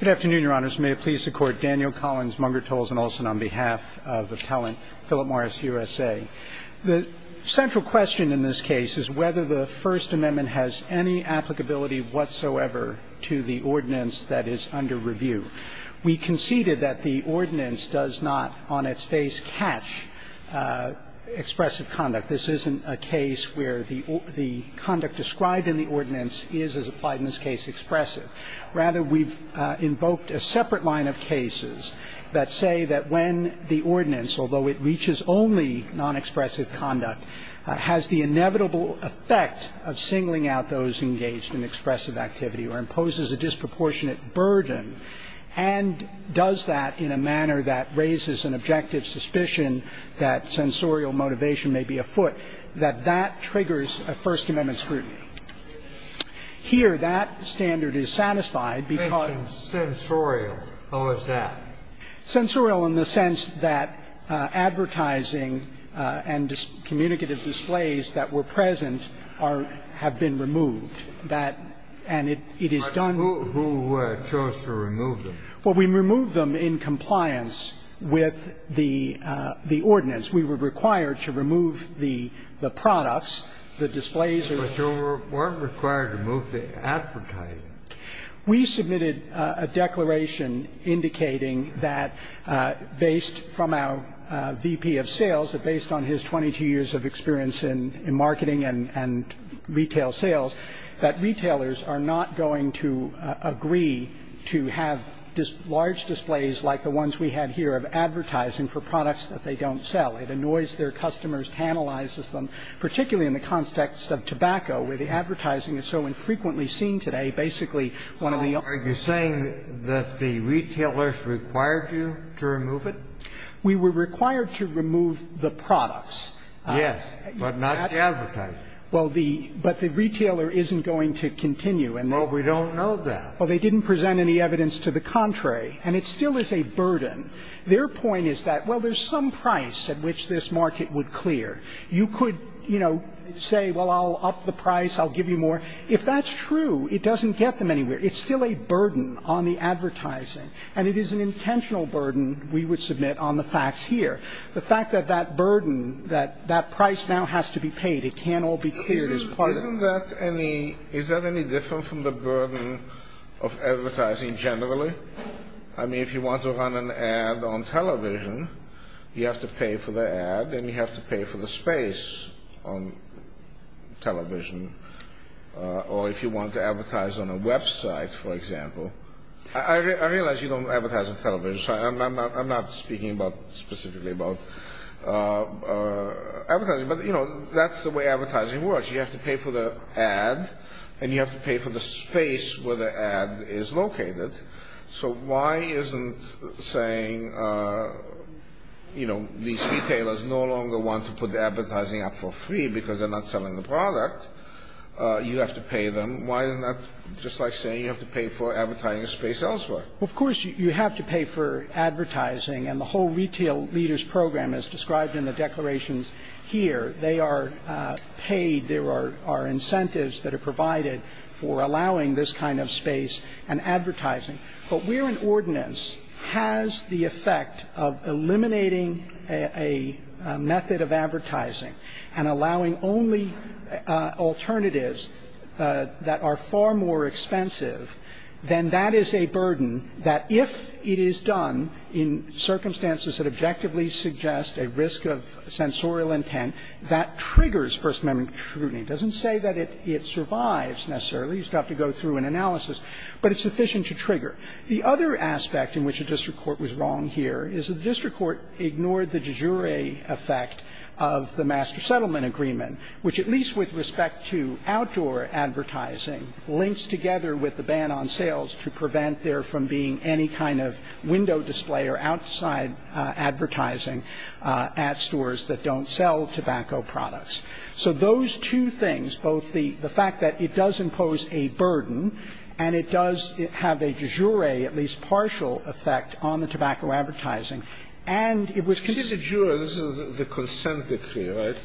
Good afternoon, Your Honors. May it please the Court, Daniel Collins, Munger, Tolles, and Olson on behalf of Appellant Philip Morris USA. The central question in this case is whether the First Amendment has any applicability whatsoever to the ordinance that is under review. We conceded that the ordinance does not, on its face, catch expressive conduct. This isn't a case where the conduct described in the ordinance is, as applied in this case, expressive. Rather, we've invoked a separate line of cases that say that when the ordinance, although it reaches only non-expressive conduct, has the inevitable effect of singling out those engaged in expressive activity or imposes a disproportionate burden and does that in a manner that raises an objective suspicion that sensorial motivation may be afoot, that that triggers a First Amendment scrutiny. Here, that standard is satisfied because ---- Sensorial. How is that? Sensorial in the sense that advertising and communicative displays that were present have been removed. And it is done ---- Who chose to remove them? Well, we removed them in compliance with the ordinance. We were required to remove the products, the displays. But you weren't required to remove the advertising. We submitted a declaration indicating that based from our VP of sales, that based on his 22 years of experience in marketing and retail sales, that retailers are not going to agree to have large displays like the ones we have here of advertising for products that they don't sell. It annoys their customers, tantalizes them, particularly in the context of tobacco, where the advertising is so infrequently seen today, basically one of the ---- So are you saying that the retailers required you to remove it? We were required to remove the products. Yes, but not the advertising. Well, the ---- but the retailer isn't going to continue. Well, we don't know that. Well, they didn't present any evidence to the contrary, and it still is a burden. Their point is that, well, there's some price at which this market would clear. You could, you know, say, well, I'll up the price, I'll give you more. If that's true, it doesn't get them anywhere. It's still a burden on the advertising, and it is an intentional burden, we would submit, on the facts here. The fact that that burden, that that price now has to be paid, it can't all be cleared as part of ---- Isn't that any ---- is that any different from the burden of advertising generally? I mean, if you want to run an ad on television, you have to pay for the ad, and you have to pay for the space on television. Or if you want to advertise on a website, for example. I realize you don't advertise on television, so I'm not speaking specifically about advertising. But, you know, that's the way advertising works. You have to pay for the ad, and you have to pay for the space where the ad is located. So why isn't saying, you know, these retailers no longer want to put the advertising up for free because they're not selling the product? You have to pay them. Why isn't that just like saying you have to pay for advertising a space elsewhere? Of course you have to pay for advertising. And the whole Retail Leaders Program, as described in the declarations here, they are paid and there are incentives that are provided for allowing this kind of space and advertising. But where an ordinance has the effect of eliminating a method of advertising and allowing only alternatives that are far more expensive, then that is a burden that if it is done in circumstances that objectively suggest a risk of sensorial intent, that triggers First Amendment scrutiny. It doesn't say that it survives necessarily. You just have to go through an analysis. But it's sufficient to trigger. The other aspect in which the district court was wrong here is that the district court ignored the de jure effect of the Master Settlement Agreement, which at least with respect to outdoor advertising links together with the ban on sales to prevent there from being any kind of window display or outside advertising at stores that don't sell tobacco products. So those two things, both the fact that it does impose a burden and it does have a de jure, at least partial, effect on the tobacco advertising, and it was considered a juror. This is the consent decree, right?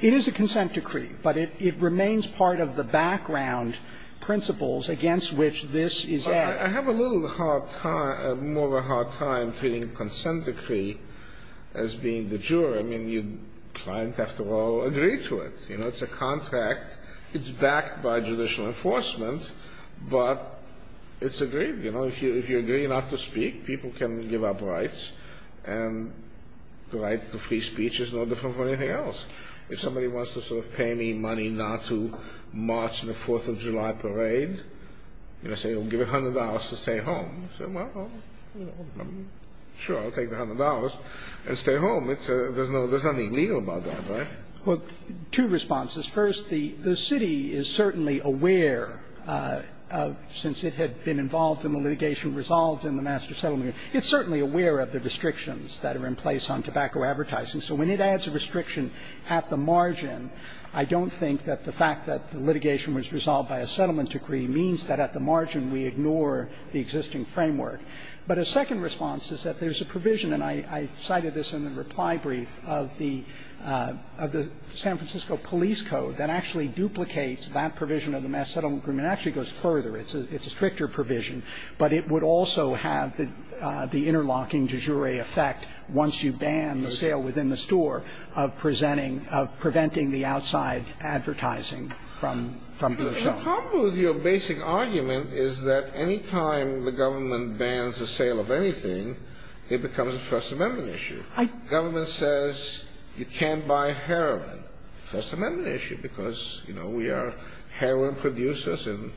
It is a consent decree. But it remains part of the background principles against which this is at. I have a little more of a hard time treating a consent decree as being de jure. I mean, clients have to all agree to it. It's a contract. It's backed by judicial enforcement. But it's agreed. If you agree not to speak, people can give up rights. And the right to free speech is no different from anything else. If somebody wants to sort of pay me money not to march in a Fourth of July parade, and I say I'll give you $100 to stay home, you say, well, sure, I'll take the $100 and stay home. There's nothing legal about that, right? Well, two responses. First, the city is certainly aware, since it had been involved in the litigation resolved in the master settlement agreement, it's certainly aware of the restrictions that are in place on tobacco advertising. So when it adds a restriction at the margin, I don't think that the fact that the we ignore the existing framework. But a second response is that there's a provision, and I cited this in the reply brief, of the San Francisco police code that actually duplicates that provision of the master settlement agreement. It actually goes further. It's a stricter provision. But it would also have the interlocking de jure effect once you ban the sale within the store of presenting of preventing the outside advertising from being shown. The problem with your basic argument is that any time the government bans the sale of anything, it becomes a First Amendment issue. The government says you can't buy heroin. First Amendment issue, because we are heroin producers, and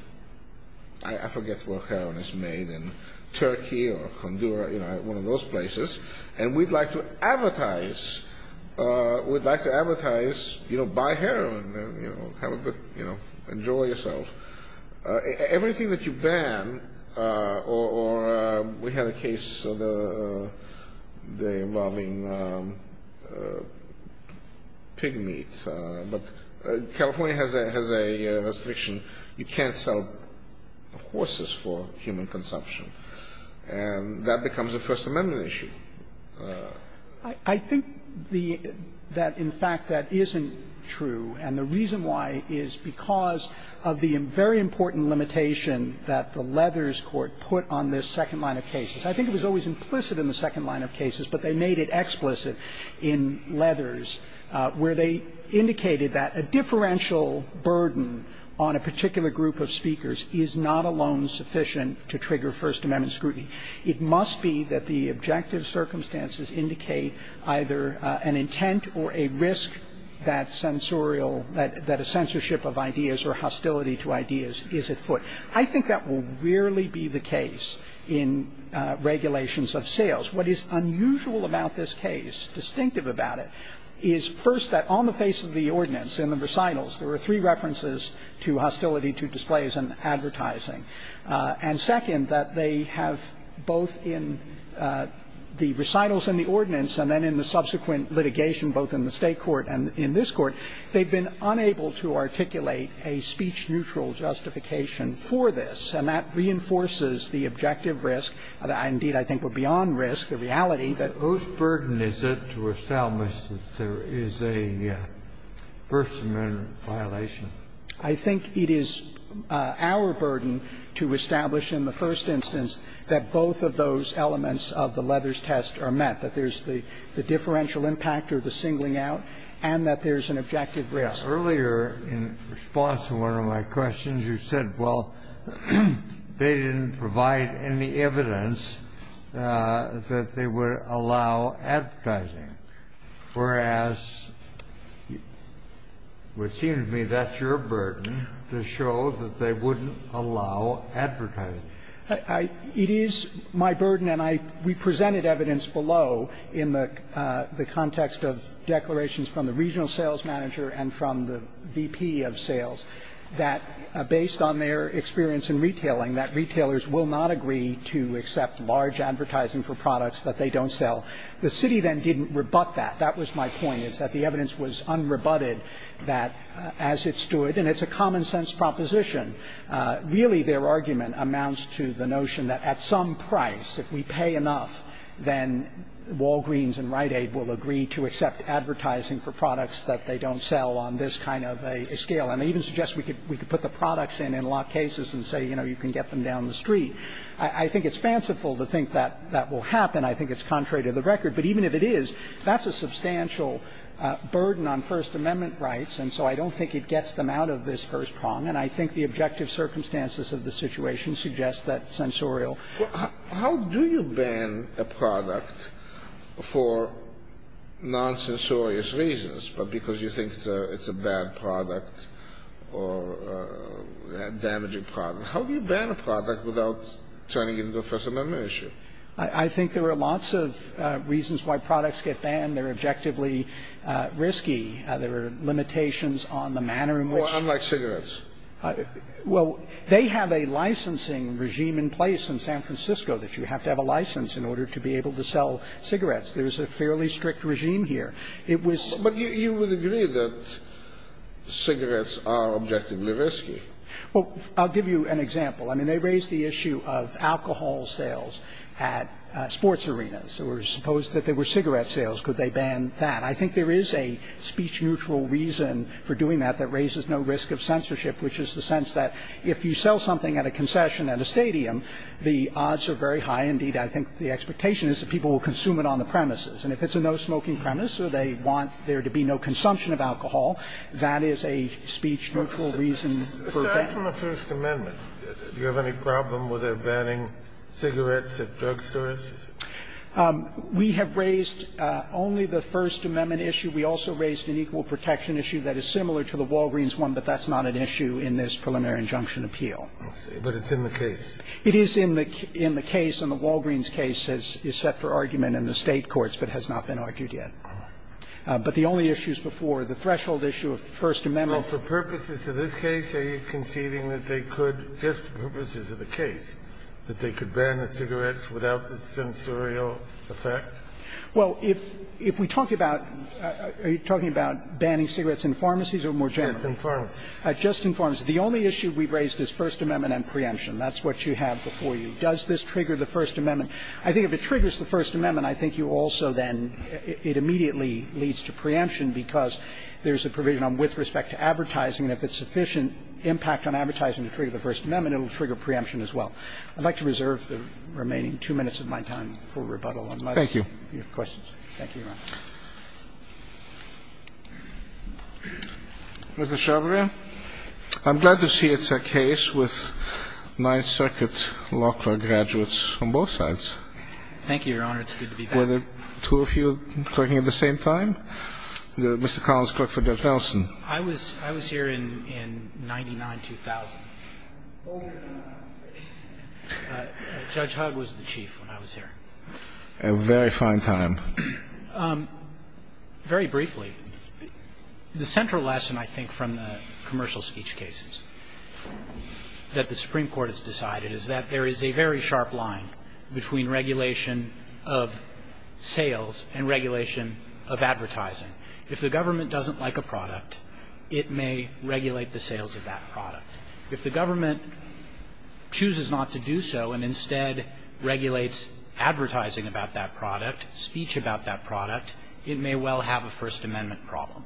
I forget where heroin is made in Turkey or Honduras, one of those places, and we'd like to advertise, you know, buy heroin. You know, have a good, you know, enjoy yourself. Everything that you ban, or we had a case involving pig meat. But California has a restriction. You can't sell horses for human consumption. And that becomes a First Amendment issue. I think that, in fact, that isn't true, and the reason why is because of the very important limitation that the Leathers court put on this second line of cases. I think it was always implicit in the second line of cases, but they made it explicit in Leathers, where they indicated that a differential burden on a particular group of speakers is not alone sufficient to trigger First Amendment scrutiny. It must be that the objective circumstances indicate either an intent or a risk that censorial, that a censorship of ideas or hostility to ideas is at foot. I think that will rarely be the case in regulations of sales. What is unusual about this case, distinctive about it, is, first, that on the face of the ordinance in the recitals, there were three references to hostility to displays and advertising. And, second, that they have both in the recitals and the ordinance and then in the subsequent litigation, both in the State court and in this court, they've been unable to articulate a speech-neutral justification for this. And that reinforces the objective risk, and indeed, I think, the beyond risk, the reality that most burden is set to establish that there is a First Amendment violation. I think it is our burden to establish in the first instance that both of those elements of the Leathers test are met, that there's the differential impact or the singling out, and that there's an objective risk. Yeah. Earlier, in response to one of my questions, you said, well, they didn't provide any evidence that they would allow advertising, whereas, it seems to me, that's your burden to show that they wouldn't allow advertising. It is my burden, and I we presented evidence below in the context of declarations from the regional sales manager and from the VP of sales, that based on their experience in retailing, that retailers will not agree to accept large advertising for products that they don't sell. The city then didn't rebut that. That was my point, is that the evidence was unrebutted that, as it stood, and it's a common-sense proposition, really, their argument amounts to the notion that at some price, if we pay enough, then Walgreens and Rite Aid will agree to accept advertising for products that they don't sell on this kind of a scale. And they even suggest we could put the products in, in a lot of cases, and say, you know, you can get them down the street. I think it's fanciful to think that that will happen. I think it's contrary to the record. But even if it is, that's a substantial burden on First Amendment rights, and so I don't think it gets them out of this first prong. And I think the objective circumstances of the situation suggest that censorial ---- Kennedy. How do you ban a product for non-censorious reasons, but because you think it's a bad product or a damaging product? How do you ban a product without turning it into a First Amendment issue? I think there are lots of reasons why products get banned. They're objectively risky. There are limitations on the manner in which ---- Well, unlike cigarettes. Well, they have a licensing regime in place in San Francisco that you have to have a license in order to be able to sell cigarettes. There's a fairly strict regime here. It was ---- But you would agree that cigarettes are objectively risky. Well, I'll give you an example. I mean, they raised the issue of alcohol sales at sports arenas. Or suppose that there were cigarette sales. Could they ban that? I think there is a speech-neutral reason for doing that that raises no risk of censorship, which is the sense that if you sell something at a concession at a stadium, the odds are very high. Indeed, I think the expectation is that people will consume it on the premises. And if it's a no-smoking premise or they want there to be no consumption of alcohol, that is a speech-neutral reason for banning. Well, apart from the First Amendment, do you have any problem with them banning cigarettes at drugstores? We have raised only the First Amendment issue. We also raised an equal protection issue that is similar to the Walgreens one, but that's not an issue in this preliminary injunction appeal. I see. But it's in the case. It is in the case. And the Walgreens case is set for argument in the State courts but has not been argued But the only issues before, the threshold issue of First Amendment ---- Well, for purposes of this case, are you conceding that they could, just for purposes of the case, that they could ban the cigarettes without the censorial effect? Well, if we talk about ---- are you talking about banning cigarettes in pharmacies or more generally? Yes, in pharmacies. Just in pharmacies. The only issue we've raised is First Amendment and preemption. That's what you have before you. Does this trigger the First Amendment? I think if it triggers the First Amendment, I think you also then ---- it immediately leads to preemption because there's a provision on with respect to advertising. And if it's sufficient impact on advertising to trigger the First Amendment, it will trigger preemption as well. I'd like to reserve the remaining two minutes of my time for rebuttal unless you have questions. Thank you, Your Honor. Mr. Shaubria, I'm glad to see it's a case with Ninth Circuit law clerk graduates on both sides. Thank you, Your Honor. It's good to be back. Were the two of you clerking at the same time? Mr. Collins clerked for Judge Nelson. I was here in 99-2000. Judge Hugg was the chief when I was here. A very fine time. Very briefly, the central lesson, I think, from the commercial speech cases that the Supreme Court has decided is that there is a very sharp line between regulation of sales and regulation of advertising. If the government doesn't like a product, it may regulate the sales of that product. If the government chooses not to do so and instead regulates advertising about that product, speech about that product, it may well have a First Amendment problem.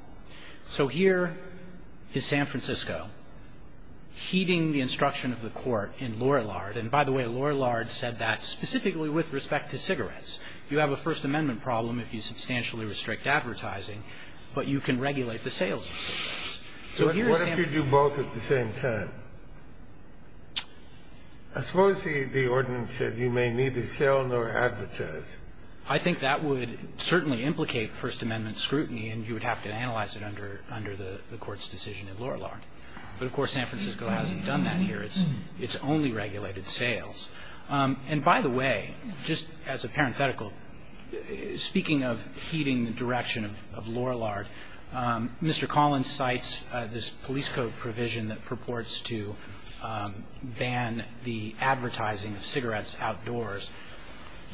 So here is San Francisco heeding the instruction of the court in Lorillard. And by the way, Lorillard said that specifically with respect to cigarettes. You have a First Amendment problem if you substantially restrict advertising, but you can regulate the sales of cigarettes. So here is San Francisco. So what if you do both at the same time? I suppose the ordinance said you may neither sell nor advertise. I think that would certainly implicate First Amendment scrutiny, and you would have to analyze it under the court's decision in Lorillard. But, of course, San Francisco hasn't done that here. It's only regulated sales. And, by the way, just as a parenthetical, speaking of heeding the direction of Lorillard, Mr. Collins cites this police code provision that purports to ban the advertising of cigarettes outdoors.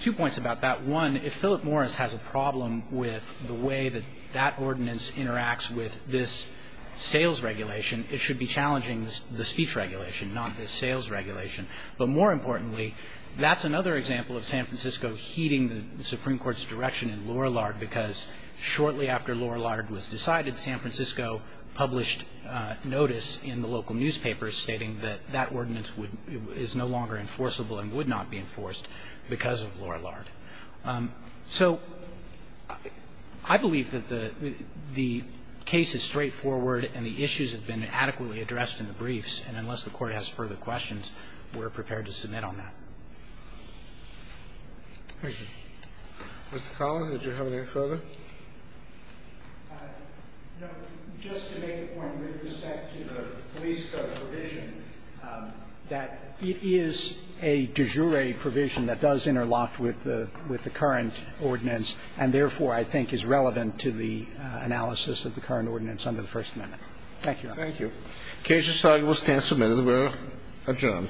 Two points about that. One, if Philip Morris has a problem with the way that that ordinance interacts with this sales regulation, it should be challenging the speech regulation, not the sales regulation. But more importantly, that's another example of San Francisco heeding the Supreme Court's direction in Lorillard, because shortly after Lorillard was decided, San Francisco published notice in the local newspapers stating that that ordinance is no longer enforceable and would not be enforced because of Lorillard. So I believe that the case is straightforward and the issues have been adequately addressed in the briefs, and unless the Court has further questions, we're prepared to submit on that. Roberts. Mr. Collins, did you have anything further? No. Just to make a point with respect to the police code provision, that it is a de jure provision that does interlock with the current ordinance and, therefore, I think is relevant to the analysis of the current ordinance under the First Amendment. Thank you, Your Honor. Thank you. The case is signed. We'll stand submitted. We're adjourned.